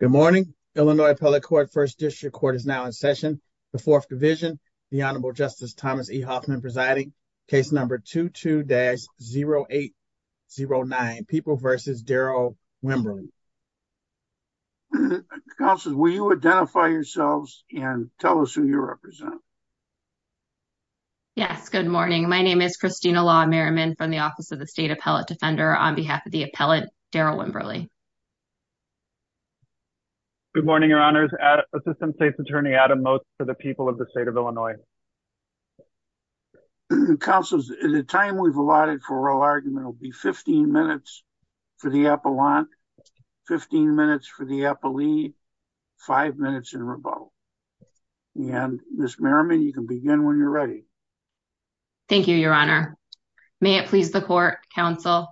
Good morning. Illinois Appellate Court First District Court is now in session. The Fourth Division, the Honorable Justice Thomas E. Hoffman presiding. Case number 22-0809, People v. Darrell Wimberly. Counsel, will you identify yourselves and tell us who you represent? Yes, good morning. My name is Christina Law Merriman from the Office of the State Appellate Defender on behalf of the appellate Darrell Wimberly. Good morning, your honors. Assistant State's Attorney Adam Motz for the people of the state of Illinois. Counsel, the time we've allotted for oral argument will be 15 minutes for the appellant, 15 minutes for the appellee, five minutes in rebuttal. And Ms. Merriman, you can begin when you're ready. Thank you, your honor. May it please the court, counsel.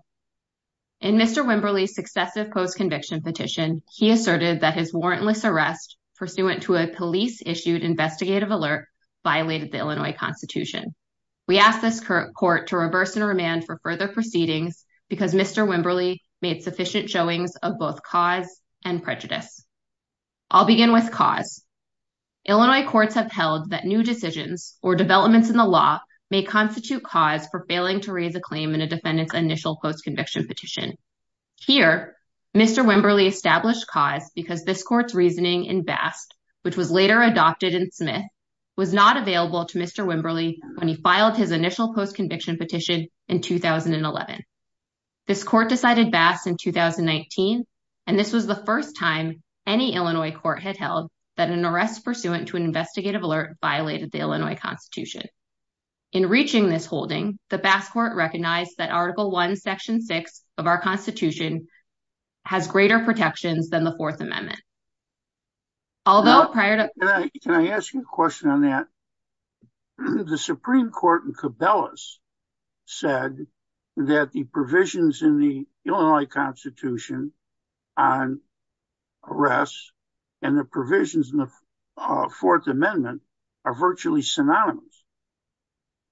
In Mr. Wimberly's successive post-conviction petition, he asserted that his warrantless arrest pursuant to a police-issued investigative alert violated the Illinois Constitution. We ask this court to reverse and remand for further proceedings because Mr. Wimberly made sufficient showings of both cause and prejudice. I'll begin with cause. Illinois courts have held that new decisions or developments in the law may constitute cause for failing to raise a claim in a defendant's initial post-conviction petition. Here, Mr. Wimberly established cause because this court's reasoning in Bast, which was later adopted in Smith, was not available to Mr. Wimberly when he filed his initial post-conviction petition in 2011. This court decided Bast in 2019, and this was the first time any Illinois court had held that an arrest pursuant to an investigative alert violated the Illinois Constitution. In reaching this holding, the Bast court recognized that Article 1, Section 6 of our Constitution has greater protections than the Fourth Amendment. Although prior to... Can I ask you a question on that? The Supreme Court in Cabelas said that the provisions in the Illinois Constitution on arrests and the provisions in the Fourth Amendment are virtually synonymous,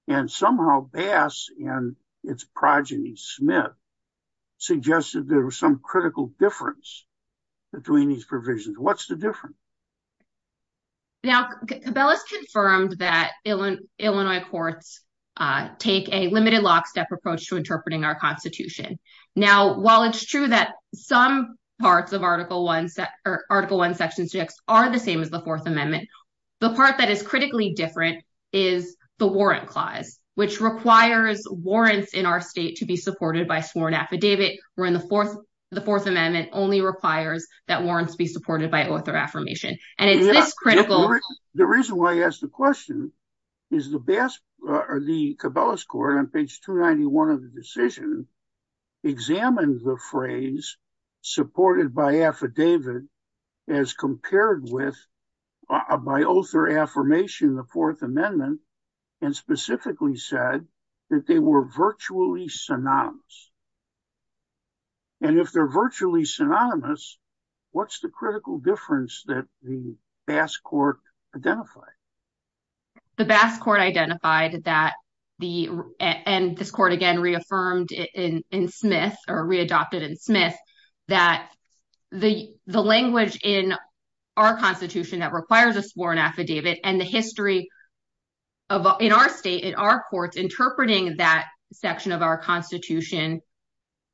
and somehow Bast and its progeny, Smith, suggested there was some critical difference between these provisions. What's the difference? Now, Cabelas confirmed that Illinois courts take a limited lockstep approach to interpreting our Constitution. Now, while it's true that some parts of Article 1, Section 6 are the same as the Fourth Amendment, the part that is critically different is the warrant clause, which requires warrants in our state to be supported by sworn affidavit, wherein the Fourth Amendment only requires that warrants be supported by author affirmation. The reason why I ask the question is the Cabelas court, on page 291 of the decision, examined the phrase supported by affidavit as compared with, by author affirmation, the Fourth Amendment, and specifically said that they were virtually synonymous. And if they're virtually synonymous, what's the critical difference that the Bast court identified? The Bast court identified that the, and this court, again, reaffirmed in Smith, or readopted in Smith, that the language in our Constitution that requires a sworn affidavit and the history of, in our state, in our courts, interpreting that section of our Constitution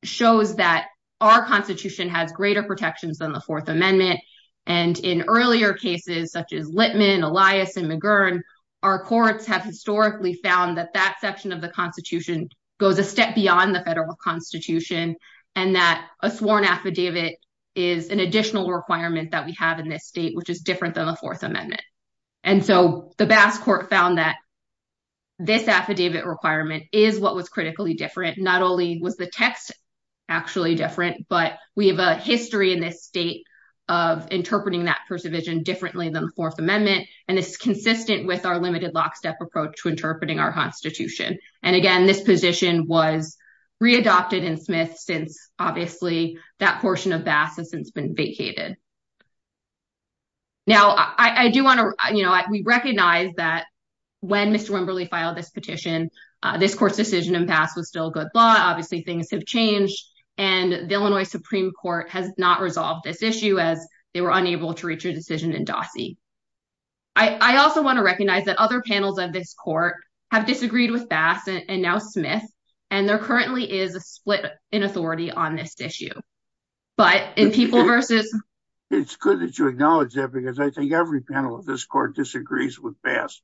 shows that our Constitution has greater protections than the Fourth Amendment. And in earlier cases, such as Litman, Elias, and McGurn, our courts have historically found that that section of the Constitution goes a step beyond the federal Constitution, and that a sworn affidavit is an additional requirement that we have in this state, which is different than the Fourth Amendment. And so the Bast court found that this affidavit requirement is what was critically different. Not only was the text actually different, but we have a history in this state of interpreting that Fourth Amendment, and it's consistent with our limited lockstep approach to interpreting our Constitution. And again, this position was readopted in Smith since, obviously, that portion of Bast has since been vacated. Now, I do want to, you know, we recognize that when Mr. Wimberly filed this petition, this court's decision in Bast was still good law. Obviously, things have changed, and the Illinois Supreme Court has not resolved this issue as they were unable to reach a decision in Dossie. I also want to recognize that other panels of this court have disagreed with Bast, and now Smith, and there currently is a split in authority on this issue. But in People versus... It's good that you acknowledge that, because I think every panel of this court disagrees with Bast.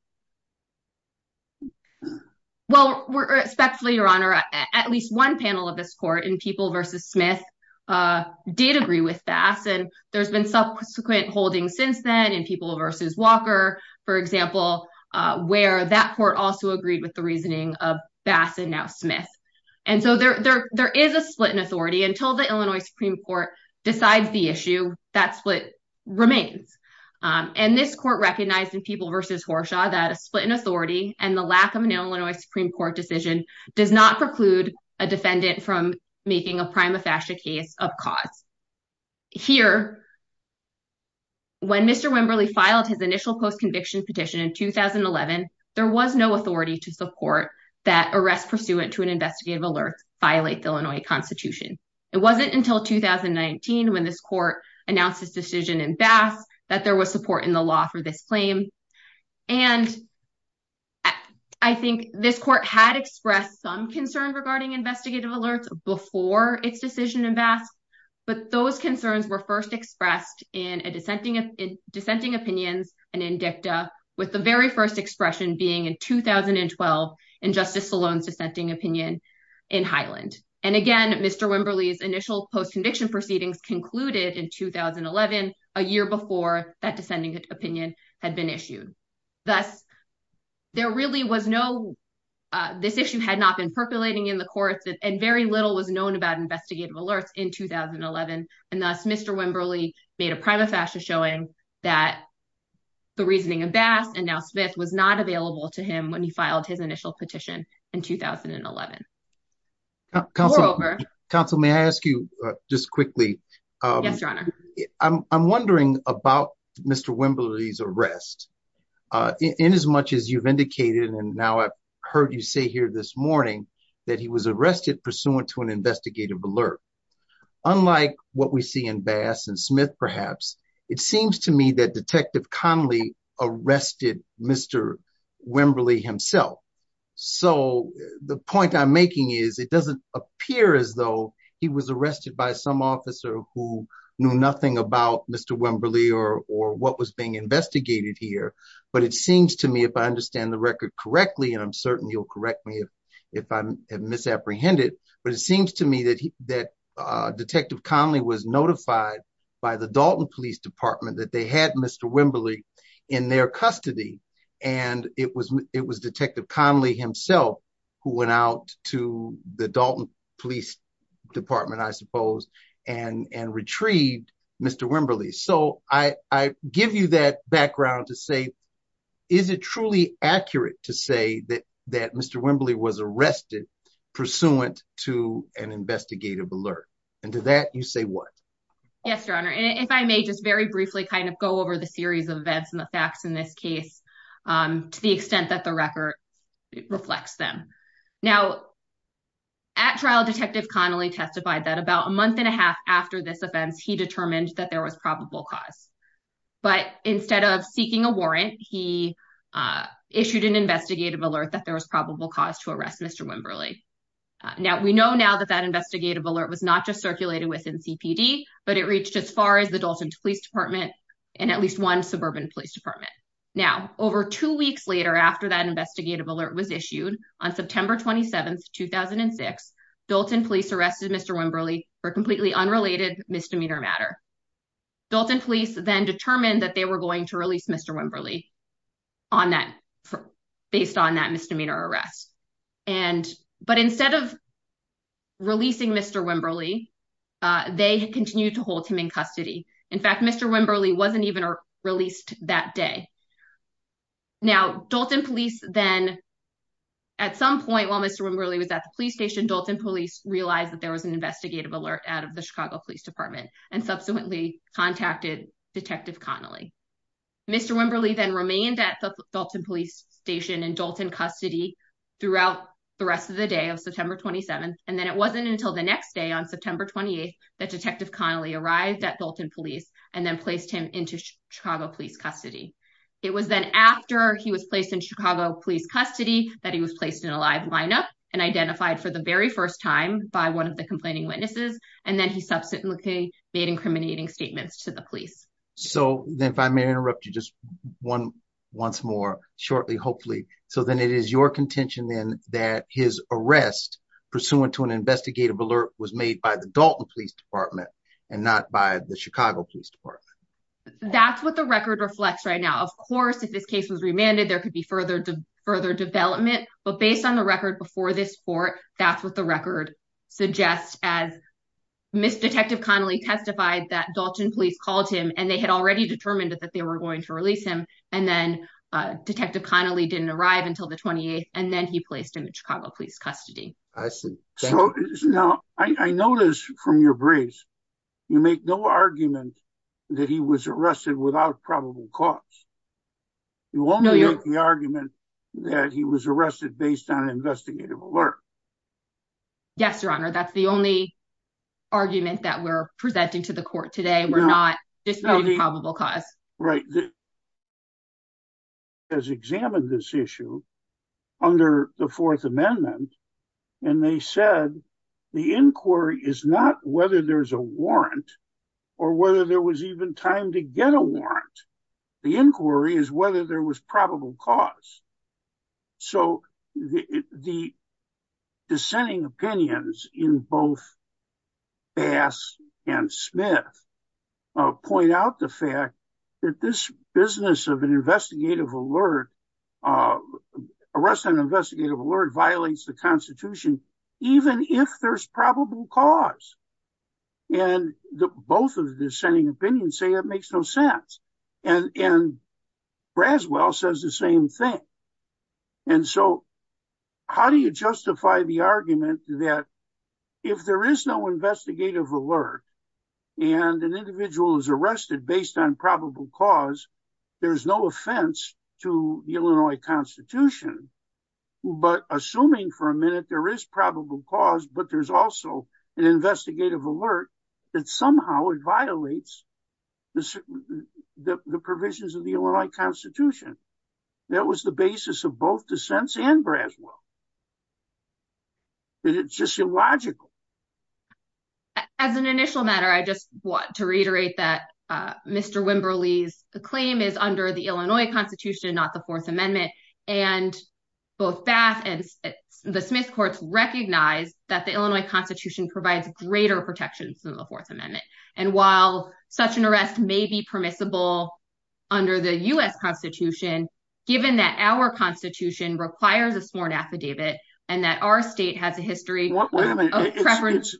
Well, respectfully, Your Honor, at least one panel of this court in People versus Smith did agree with Bast, and there's been subsequent holdings since then in People versus Walker, for example, where that court also agreed with the reasoning of Bast and now Smith. And so there is a split in authority. Until the Illinois Supreme Court decides the issue, that split remains. And this court recognized in People versus Horshaw that a split in authority and the lack of an Illinois Supreme Court decision does not preclude a defendant from making a prima facie case of cause. Here, when Mr. Wimberly filed his initial post-conviction petition in 2011, there was no authority to support that arrests pursuant to an investigative alert violate the Illinois Constitution. It wasn't until 2019, when this court announced this decision in Bast, that there was support in the law for this claim. And I think this court had expressed some concern regarding investigative alerts before its decision in Bast, but those concerns were first expressed in dissenting opinions and in dicta, with the very first expression being in 2012 in Justice Salone's dissenting opinion in Highland. And again, Mr. Wimberly's initial post-conviction proceedings concluded in 2011, a year before that dissenting opinion had been issued. Thus, there really was no, this issue had not been percolating in the courts and very little was known about investigative alerts in 2011. And thus, Mr. Wimberly made a prima facie showing that the reasoning of Bast and now Smith was not available to him when he filed his initial petition in 2011. We're over. Counsel, may I ask you just quickly? Yes, Your Honor. I'm wondering about Mr. Wimberly's arrest in as much as you've indicated, and now I've heard you say here this morning, that he was arrested pursuant to an investigative alert. Unlike what we see in Bast and Smith, perhaps, it seems to me that Detective Conley arrested Mr. Wimberly himself. So, the point I'm making is it doesn't appear as though he was arrested by some officer who knew nothing about Mr. Wimberly or what was being investigated here, but it seems to me, if I understand the record correctly, and I'm certain you'll correct me if I have misapprehended, but it seems to me that Detective Conley was notified by the Dalton Police Department that they had Mr. Wimberly in their custody, and it was Detective Conley himself who went out to the Dalton Police Department, I suppose, and retrieved Mr. Wimberly. So, I give you that background to say, is it truly accurate to say that Mr. Wimberly was arrested pursuant to an investigative alert? And to that, you say what? Yes, Your Honor, and if I may just very briefly kind of go over the series of events and the facts in this case to the extent that the record reflects them. Now, at trial, Detective Conley testified that about a month and a half after this offense, he determined that there was probable cause, but instead of seeking a warrant, he issued an investigative alert that there was probable cause to arrest Mr. Wimberly. Now, we know now that that investigative alert was not just circulated within CPD, but it reached as far as the Dalton Police Department and at least one suburban police department. Now, over two weeks later after that investigative alert was issued, on September 27th, 2006, Dalton Police arrested Mr. Wimberly for completely unrelated misdemeanor matter. Dalton Police then determined that they were going to release Mr. Wimberly on that, based on that misdemeanor arrest. But instead of releasing Mr. Wimberly, they continued to hold him in custody. In fact, Mr. Wimberly wasn't even released that day. Now, Dalton Police then, at some point while Mr. Wimberly was at the police station, Dalton Police realized that there was an investigative alert out of the Chicago Police Department and subsequently contacted Detective Connolly. Mr. Wimberly then remained at the Dalton Police station in Dalton custody throughout the rest of the day of September 27th, and then it wasn't until the next day on September 28th that Detective Connolly arrived at Dalton Police and then placed him into Chicago Police custody. It was then after he was placed in Chicago Police custody that he was placed in a live lineup and identified for the very first time by one of the incriminating statements to the police. So then if I may interrupt you just one once more shortly, hopefully. So then it is your contention then that his arrest pursuant to an investigative alert was made by the Dalton Police Department and not by the Chicago Police Department? That's what the record reflects right now. Of course, if this case was remanded, there could be further development. But based on the record before this court, that's what the record suggests as Detective Connolly testified that Dalton Police called him and they had already determined that they were going to release him. And then Detective Connolly didn't arrive until the 28th and then he placed him in Chicago Police custody. I see. Now I notice from your briefs, you make no argument that he was arrested without probable cause. You won't make the argument that he was arrested based on an investigative alert. Yes, Your Honor. That's the only argument that we're presenting to the court today. We're not disputing probable cause. Right. They examined this issue under the Fourth Amendment and they said the inquiry is not whether there's a warrant or whether there was even time to get a warrant. The inquiry is whether there was probable cause. So the dissenting opinions in both Bass and Smith point out the fact that this business of an investigative alert, arrest and investigative alert violates the Constitution, even if there's probable cause. And both of the dissenting opinions say it makes no sense. And Braswell says the same thing. And so how do you justify the argument that if there is no investigative alert and an individual is arrested based on probable cause, there's no offense to the Illinois Constitution. But assuming for a minute there is probable cause, but there's also an investigative alert that somehow violates the provisions of the Illinois Constitution. That was the basis of both dissents and Braswell. It's just illogical. As an initial matter, I just want to reiterate that Mr. Wimberly's claim is under the Illinois Constitution, not the Fourth Amendment. And both Bass and the Smith courts recognize that the Illinois Constitution provides greater protections than the Fourth Amendment. And while such an arrest may be permissible under the U.S. Constitution, given that our Constitution requires a sworn affidavit and that our state has a history of preference—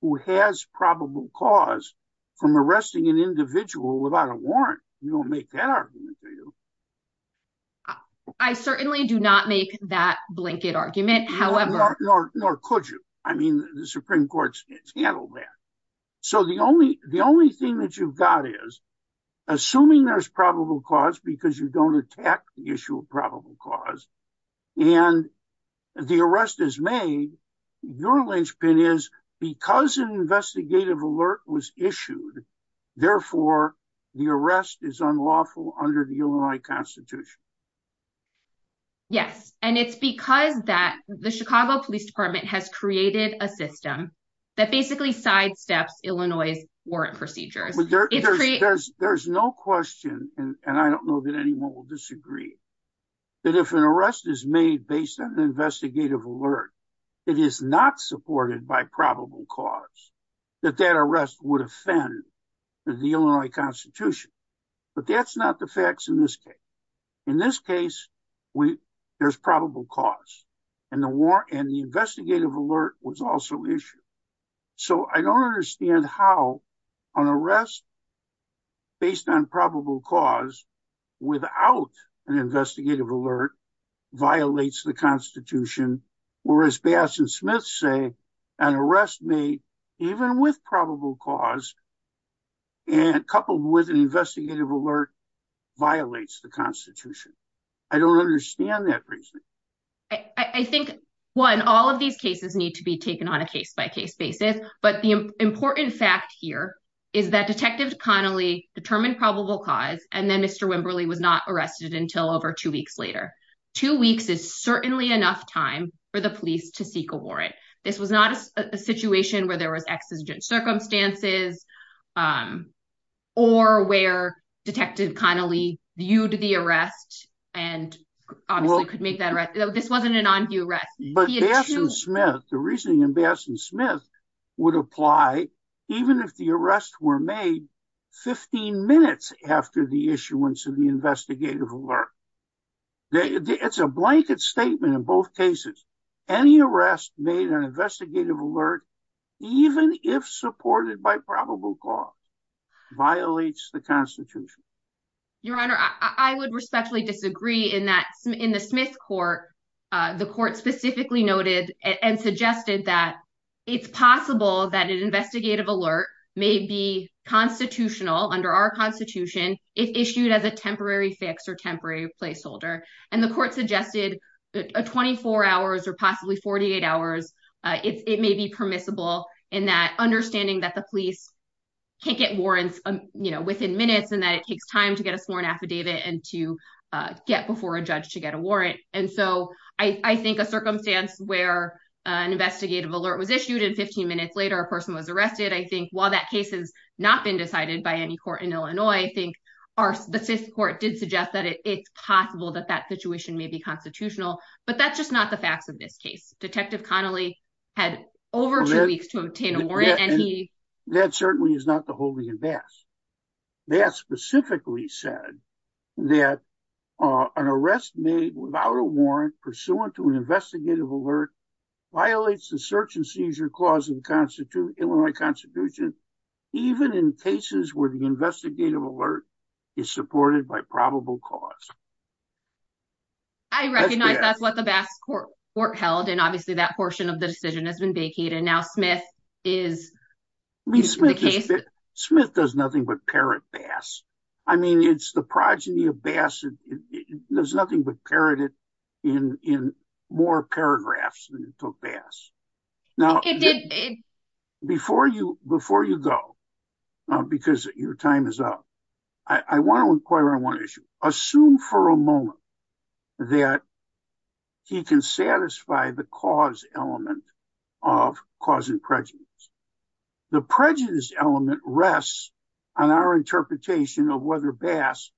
who has probable cause from arresting an individual without a warrant, you don't make that argument, do you? I certainly do not make that blanket argument, however— Nor could you. I mean, the Supreme Court's handled that. So the only thing that you've got is, assuming there's probable cause because you don't attack the issue of probable cause, and the arrest is made, your linchpin is, because an investigative alert was issued, therefore the arrest is unlawful under the Illinois Constitution. Yes, and it's because the Chicago Police Department has created a system that basically sidesteps Illinois' warrant procedures. There's no question, and I don't know that anyone will disagree, that if an arrest is made based on an investigative alert that is not supported by probable cause, that that arrest would offend the Illinois Constitution. But that's not the facts in this case. In this case, there's probable cause, and the investigative alert was also issued. So I don't understand how an arrest based on probable cause without an investigative alert violates the Constitution, or as Bass and Smith say, an arrest made even with probable cause, and coupled with an investigative alert, violates the Constitution. I don't understand that reason. I think, one, all of these cases need to be taken on a case-by-case basis, but the important fact here is that Detective Connolly determined probable cause, and then Mr. Wimberly was not arrested until over two weeks later. Two weeks is certainly enough time for the police to seek a warrant. This was not a situation where there was exigent circumstances, um, or where Detective Connolly viewed the arrest and obviously could make that arrest. This wasn't an on-view arrest. But Bass and Smith, the reasoning in Bass and Smith, would apply even if the arrests were made 15 minutes after the issuance of the investigative alert. It's a blanket statement in both cases. Any arrest made on investigative alert, even if supported by probable cause, violates the Constitution. Your Honor, I would respectfully disagree in that in the Smith court, the court specifically noted and suggested that it's possible that an investigative alert may be constitutional under our Constitution, if issued as a temporary fix or temporary placeholder, and the court suggested 24 hours or possibly 48 hours. It may be permissible in that understanding that the police can't get warrants, you know, within minutes and that it takes time to get a sworn affidavit and to get before a judge to get a warrant. And so I think a circumstance where an investigative alert was issued and 15 minutes later a person was arrested, I think while that case has not been decided by any court in Illinois, I think the Smith court did suggest that it's possible that that situation may be constitutional, but that's just not the facts of this case. Detective Connolly had over two weeks to obtain a warrant and he... That certainly is not the holy and vast. That specifically said that an arrest made without a warrant pursuant to an investigative alert violates the search and seizure clause of the Constitution, Illinois Constitution, even in cases where the investigative alert is supported by probable cause. I recognize that's what the Bass court held and obviously that portion of the decision has been vacated. Now Smith is... Smith does nothing but parrot Bass. I mean it's the progeny of Bass. There's nothing but parroted in more paragraphs than it took Bass. Now before you go, because your time is up, I want to inquire on one issue. Assume for a moment that he can satisfy the cause element of cause and prejudice. The prejudice element rests on our interpretation of whether Bass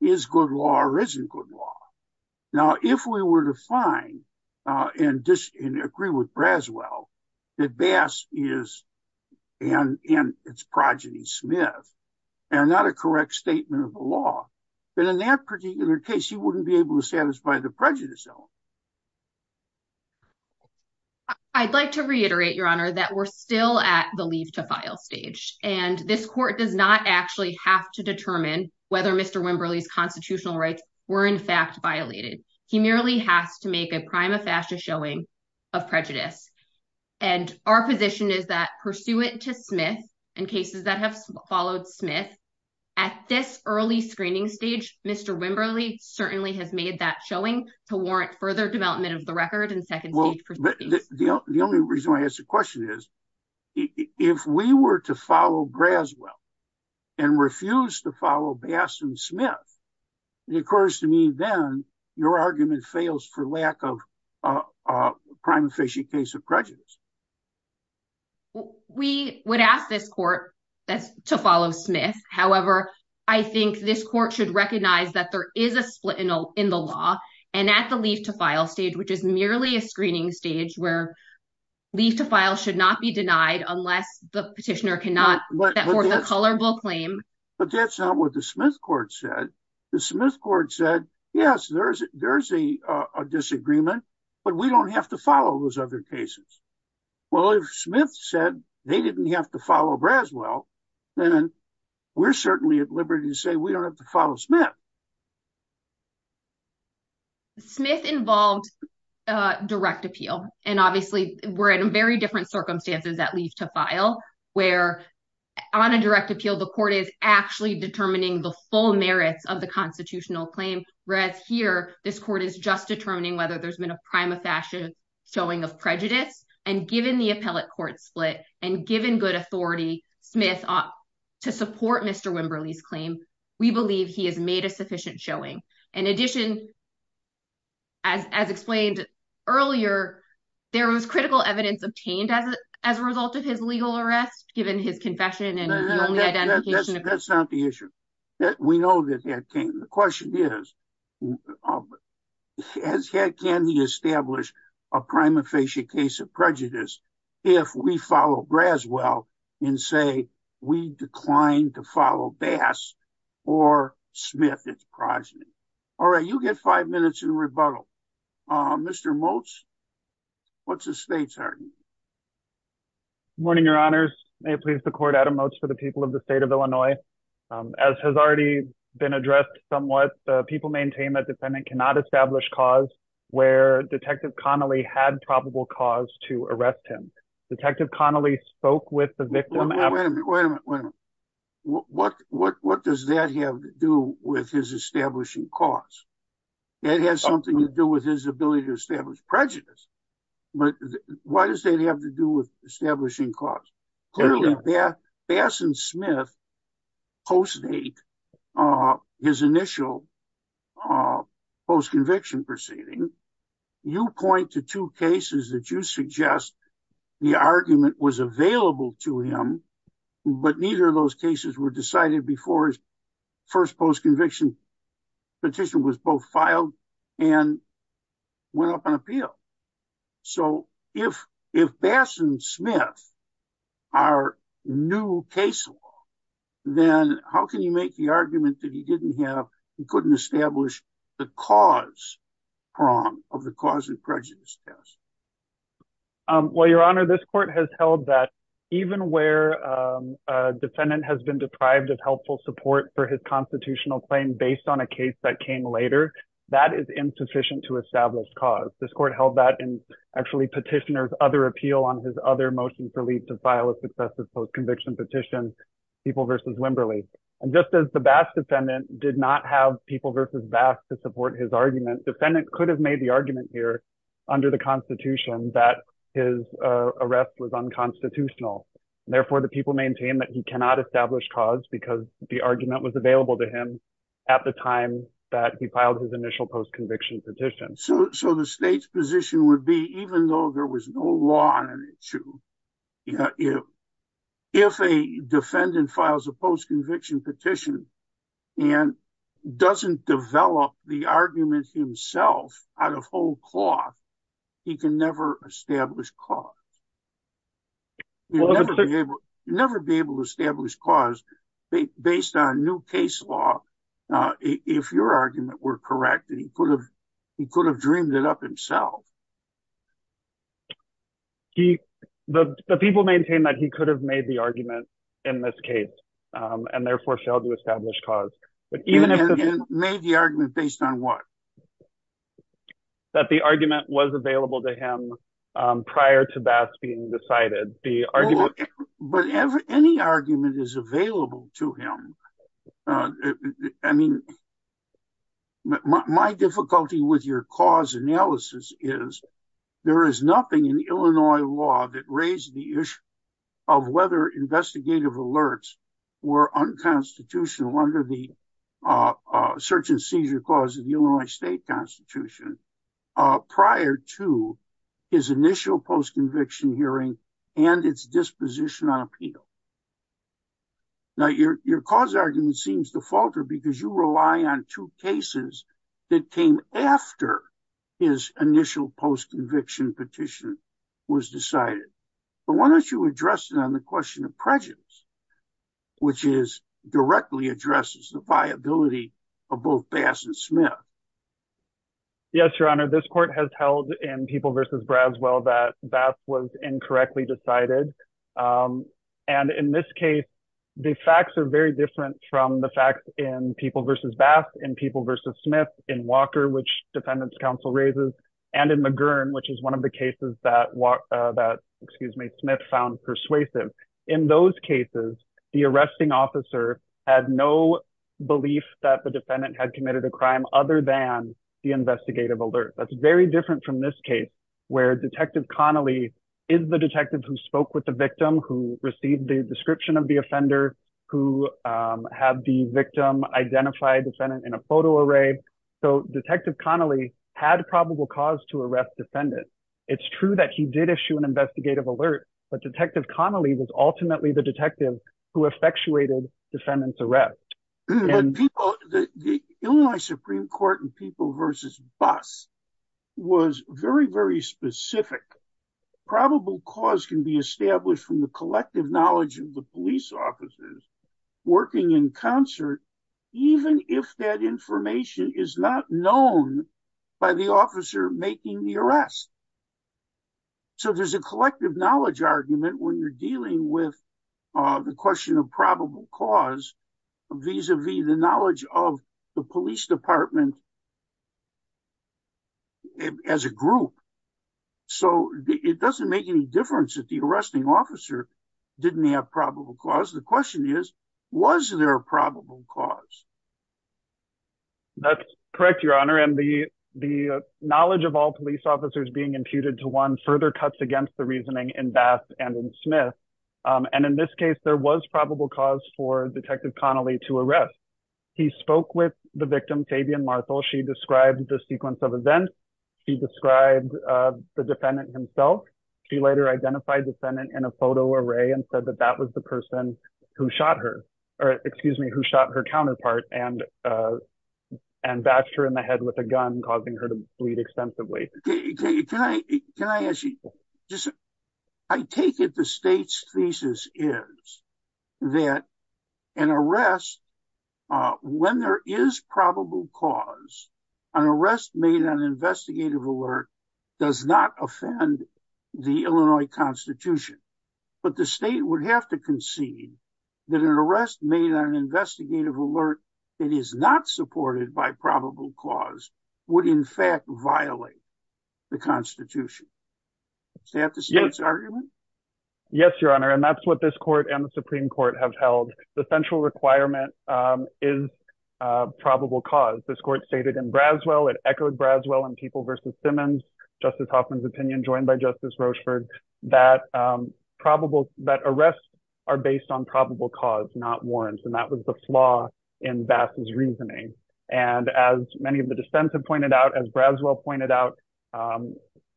is good law or isn't good law. Now if we were to find and disagree with Braswell, that Bass is and it's progeny Smith and not a correct statement of the law, then in that particular case he wouldn't be able to satisfy the prejudice element. I'd like to reiterate, your honor, that we're still at the leave to file stage and this court does not actually have to determine whether Mr. Wimberly's constitutional rights were in fact showing of prejudice. And our position is that pursuant to Smith and cases that have followed Smith at this early screening stage, Mr. Wimberly certainly has made that showing to warrant further development of the record and second stage proceedings. The only reason I ask the question is, if we were to follow Braswell and refuse to follow Smith, it occurs to me then your argument fails for lack of a crime efficient case of prejudice. We would ask this court to follow Smith. However, I think this court should recognize that there is a split in the law and at the leave to file stage, which is merely a screening stage where leave to file should not be denied unless the petitioner cannot put forth a colorable claim. But that's not what the Smith court said. The Smith court said, yes, there's a disagreement, but we don't have to follow those other cases. Well, if Smith said they didn't have to follow Braswell, then we're certainly at liberty to say we don't have to follow Smith. Smith involved direct appeal and obviously we're in very different circumstances at leave to file where on a direct appeal, the court is actually determining the full merits of the constitutional claim. Whereas here, this court is just determining whether there's been a prima facie showing of prejudice and given the appellate court split and given good authority Smith to support Mr. Wimberly's claim, we believe he has made a sufficient showing. In addition, as explained earlier, there was critical evidence obtained as a result of his legal arrest, given his confession and identification. That's not the issue. We know that that came. The question is, can he establish a prima facie case of prejudice if we follow Braswell and say we declined to follow Bass or Smith as progeny? All right, you get five minutes in rebuttal. Mr. Motes, what's the state's argument? Good morning, your honors. May it please the court, Adam Motes for the people of the state of Illinois. As has already been addressed somewhat, people maintain that defendant cannot establish cause where Detective Connolly had probable cause to arrest him. Detective Connolly spoke with the victim. Wait a minute, what does that have to do with his establishing cause? It has something to do with his ability to establish prejudice. But why does that have to do with establishing cause? Clearly, Bass and Smith post-date his initial post-conviction proceeding. You point to two cases that you suggest the argument was available to him, but neither of those cases were decided before his first post-conviction petition was both filed and went up on appeal. So if Bass and Smith are new case law, then how can you make the argument that he didn't have, he couldn't establish the cause of the cause of prejudice test? Well, your honor, this court has held that even where a defendant has been deprived of helpful support for his constitutional claim based on a case that came later, that is insufficient to establish cause. This court held that in actually petitioner's other appeal on his other motion for leave to file a successive post-conviction petition, People v. Wimberly. And just as the Bass defendant did not have People v. Bass to support his argument, defendant could have made the argument here under the constitution that his arrest was unconstitutional. Therefore, the people maintain that he cannot establish cause because the argument was available to him at the time that he filed his initial post-conviction petition. So the state's position would be, even though there was no law on the issue, if a defendant files a post-conviction petition and doesn't develop the argument himself out of whole cloth, he can never establish cause. He'll never be able to establish cause based on new case law. If your argument were correct, he could have dreamed it himself. The people maintain that he could have made the argument in this case and therefore failed to establish cause. Made the argument based on what? That the argument was available to him prior to Bass being decided. But any argument is available to him. I mean, my difficulty with your cause analysis is there is nothing in Illinois law that raised the issue of whether investigative alerts were unconstitutional under the search and seizure clause of the Illinois state constitution prior to his initial post-conviction hearing and its disposition on appeal. Now, your cause argument seems to falter because you rely on two cases that came after his initial post-conviction petition was decided. But why don't you address it on the question of prejudice, which directly addresses the viability of both Bass and Smith? Yes, your honor. This court has held in People v. Braswell that Bass was incorrectly decided. And in this case, the facts are very different from the facts in People v. Bass, in People v. Smith, in Walker, which defendant's counsel raises, and in McGurn, which is one of the cases that Smith found persuasive. In those cases, the arresting officer had no belief that the defendant had committed a crime other than the investigative alert. That's very from this case, where Detective Connolly is the detective who spoke with the victim, who received the description of the offender, who had the victim identify defendant in a photo array. So, Detective Connolly had probable cause to arrest defendant. It's true that he did issue an investigative alert, but Detective Connolly was ultimately the detective who effectuated defendant's arrest. But the Illinois Supreme Court in People v. Bass was very, very specific. Probable cause can be established from the collective knowledge of the police officers working in concert, even if that information is not known by the officer making the arrest. So, there's a collective knowledge argument when you're dealing with the question of probable cause vis-a-vis the knowledge of the police department as a group. So, it doesn't make any difference if the arresting officer didn't have probable cause. The question is, was there a probable cause? That's correct, Your Honor, and the knowledge of all police officers being imputed to one further against the reasoning in Bass and in Smith. And in this case, there was probable cause for Detective Connolly to arrest. He spoke with the victim, Fabian Marthal. She described the sequence of events. She described the defendant himself. She later identified defendant in a photo array and said that that was the person who shot her, or excuse me, who shot her counterpart and bashed her in the head with a gun, causing her to bleed extensively. Can I ask you, I take it the state's thesis is that an arrest, when there is probable cause, an arrest made on investigative alert does not offend the Illinois Constitution. But the state would have to concede that an arrest made on investigative alert that is not supported by violate the Constitution. Is that the state's argument? Yes, Your Honor, and that's what this court and the Supreme Court have held. The central requirement is probable cause. This court stated in Braswell, it echoed Braswell and People v. Simmons, Justice Hoffman's opinion, joined by Justice Rochford, that arrests are based on probable cause, not warrants, and that was the flaw in Bass's reasoning. And as many of the defense have pointed out, as Braswell pointed out,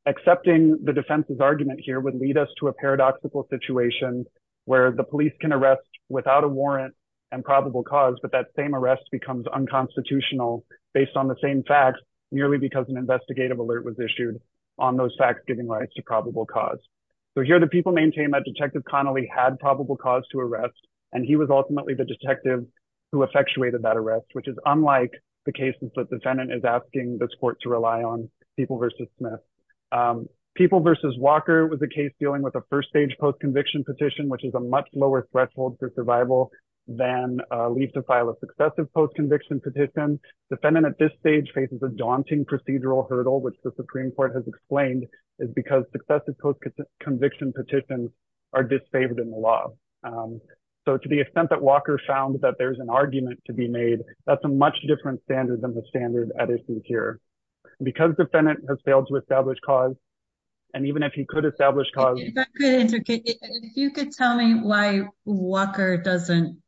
accepting the defense's argument here would lead us to a paradoxical situation where the police can arrest without a warrant and probable cause, but that same arrest becomes unconstitutional based on the same facts, merely because an investigative alert was issued on those facts giving rise to probable cause. So here the people maintain that Detective Connolly had probable cause to arrest, and he was ultimately the detective who effectuated that arrest, which is unlike the cases that defendant is asking this court to rely on People v. Smith. People v. Walker was a case dealing with a first-stage post-conviction petition, which is a much lower threshold for survival than leave to file a successive post-conviction petition. Defendant at this stage faces a daunting procedural hurdle, which the Supreme Court has explained is because successive post-conviction petitions are disfavored in the law. So to the much different standard than the standard at issue here. Because defendant has failed to establish cause, and even if he could establish cause... If you could tell me why Walker doesn't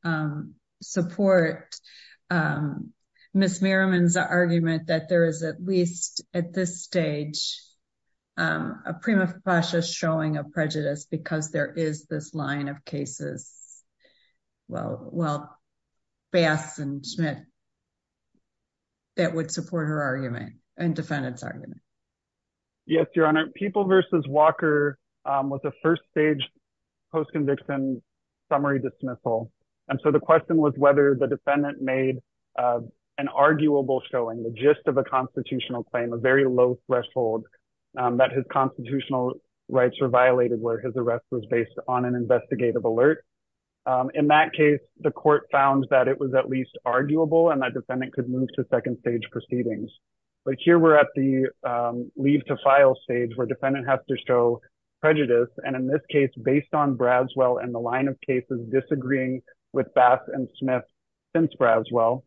support Ms. Merriman's argument that there is at least at this stage a prima facie showing of prejudice because there is this line of cases, well, Bass and Smith, that would support her argument and defendant's argument. Yes, Your Honor. People v. Walker was a first-stage post-conviction summary dismissal. And so the question was whether the defendant made an arguable showing, the gist of a constitutional claim, a very low threshold that his constitutional rights were violated where his arrest was based on an investigative alert. In that case, the court found that it was at least arguable and that defendant could move to second-stage proceedings. But here we're at the leave to file stage where defendant has to show prejudice. And in this case, based on Bradswell and the line of cases disagreeing with Bass and Smith since Bradswell,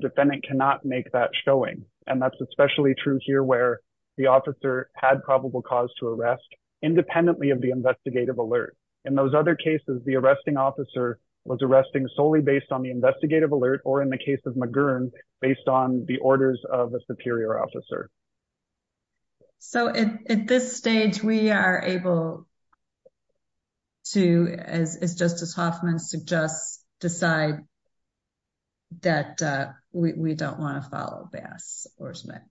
defendant cannot make that showing. And that's especially true here where the officer had probable cause to arrest independently of the investigative alert. In those other cases, the arresting officer was arresting solely based on the investigative alert or in the case of McGurn, based on the orders of a superior officer. So at this stage, we are able to, as Justice Hoffman suggests, decide that we don't want to follow Bass or Smith.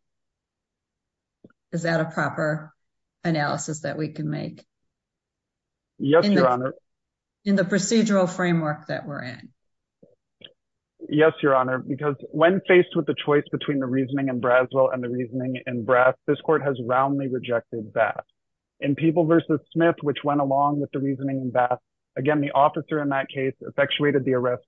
Is that a proper analysis that we can make? Yes, Your Honor. In the procedural framework that we're in? Yes, Your Honor, because when faced with the choice between the reasoning in Bradswell and the reasoning in Brass, this court has roundly rejected Bass. In People v. Smith, which went along with the reasoning in Bass, again, the officer in that case effectuated the arrest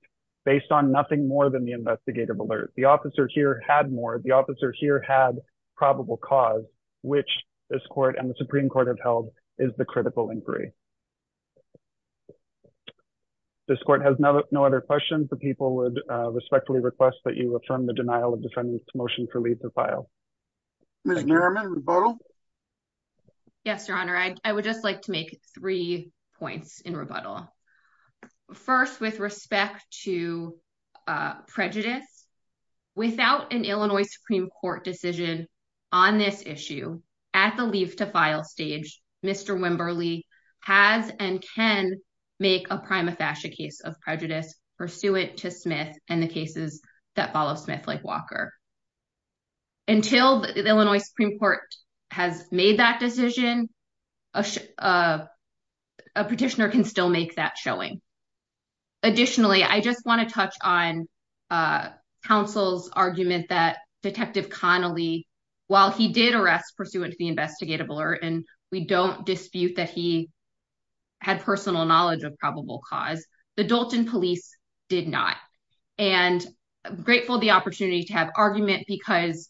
based on nothing more than the investigative alert. The officer here had more. The officer here had probable cause, which this court and the Supreme Court have held is the critical inquiry. This court has no other questions. The people would respectfully request that you affirm the denial of defendant's motion for leave to file. Ms. Nierman, rebuttal? Yes, Your Honor. I would just like to make three points in rebuttal. First, with respect to prejudice, without an Illinois Supreme Court decision on this issue, at the leave to file stage, Mr. Wimberly has and can make a prima facie case of prejudice pursuant to Smith and the cases that follow Smith like Walker. Until the Illinois Supreme Court has made that decision, a petitioner can still make that showing. Additionally, I just want to touch on counsel's argument that Detective Connolly, while he did arrest pursuant to the investigative alert, and we don't dispute that he had personal knowledge of argument because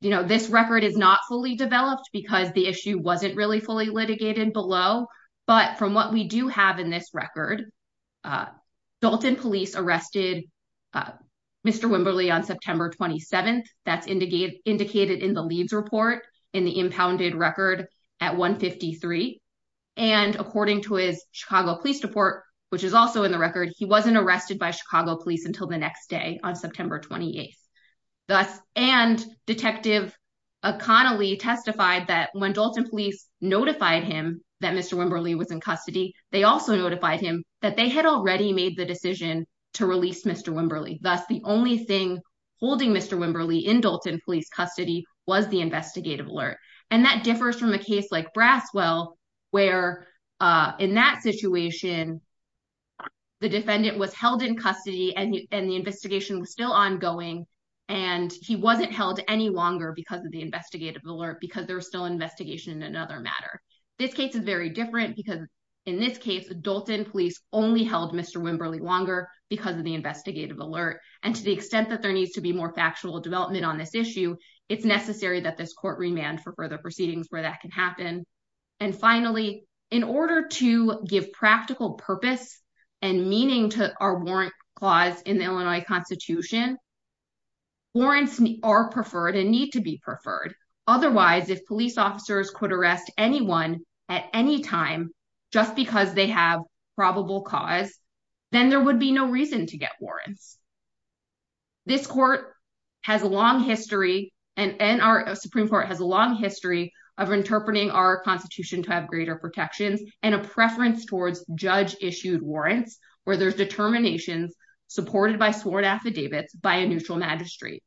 this record is not fully developed because the issue wasn't really fully litigated below, but from what we do have in this record, Dalton Police arrested Mr. Wimberly on September 27th. That's indicated in the leads report in the impounded record at 153. According to his Chicago Police report, which is also in the record, he wasn't arrested by thus. And Detective Connolly testified that when Dalton Police notified him that Mr. Wimberly was in custody, they also notified him that they had already made the decision to release Mr. Wimberly. Thus, the only thing holding Mr. Wimberly in Dalton Police custody was the investigative alert. And that differs from a case like Braswell, where in that situation, the defendant was held in custody and the investigation was still ongoing. And he wasn't held any longer because of the investigative alert, because there was still investigation in another matter. This case is very different because in this case, Dalton Police only held Mr. Wimberly longer because of the investigative alert. And to the extent that there needs to be more factual development on this issue, it's necessary that this court remand for further and meaning to our warrant clause in the Illinois Constitution. Warrants are preferred and need to be preferred. Otherwise, if police officers could arrest anyone at any time, just because they have probable cause, then there would be no reason to get warrants. This court has a long history and our Supreme Court has a long history of interpreting our Constitution to have greater protections and a preference towards judge issued warrants, where there's determinations supported by sworn affidavits by a neutral magistrate.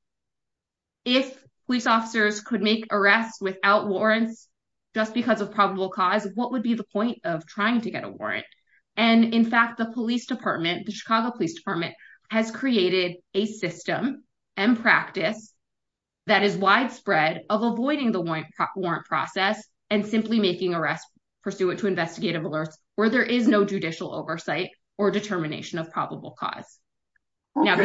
If police officers could make arrests without warrants, just because of probable cause, what would be the point of trying to get a warrant? And in fact, the Chicago Police Department has created a system and practice that is widespread of avoiding the warrant process and simply making arrests pursuant to investigative alerts, where there is no judicial oversight or determination of probable cause. If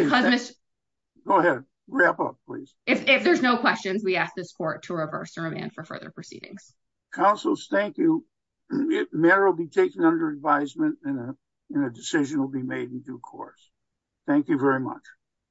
there's no questions, we ask this court to reverse and remand for further proceedings. Counsels, thank you. The mayor will be taken under advisement and a decision will be made in due course. Thank you very much.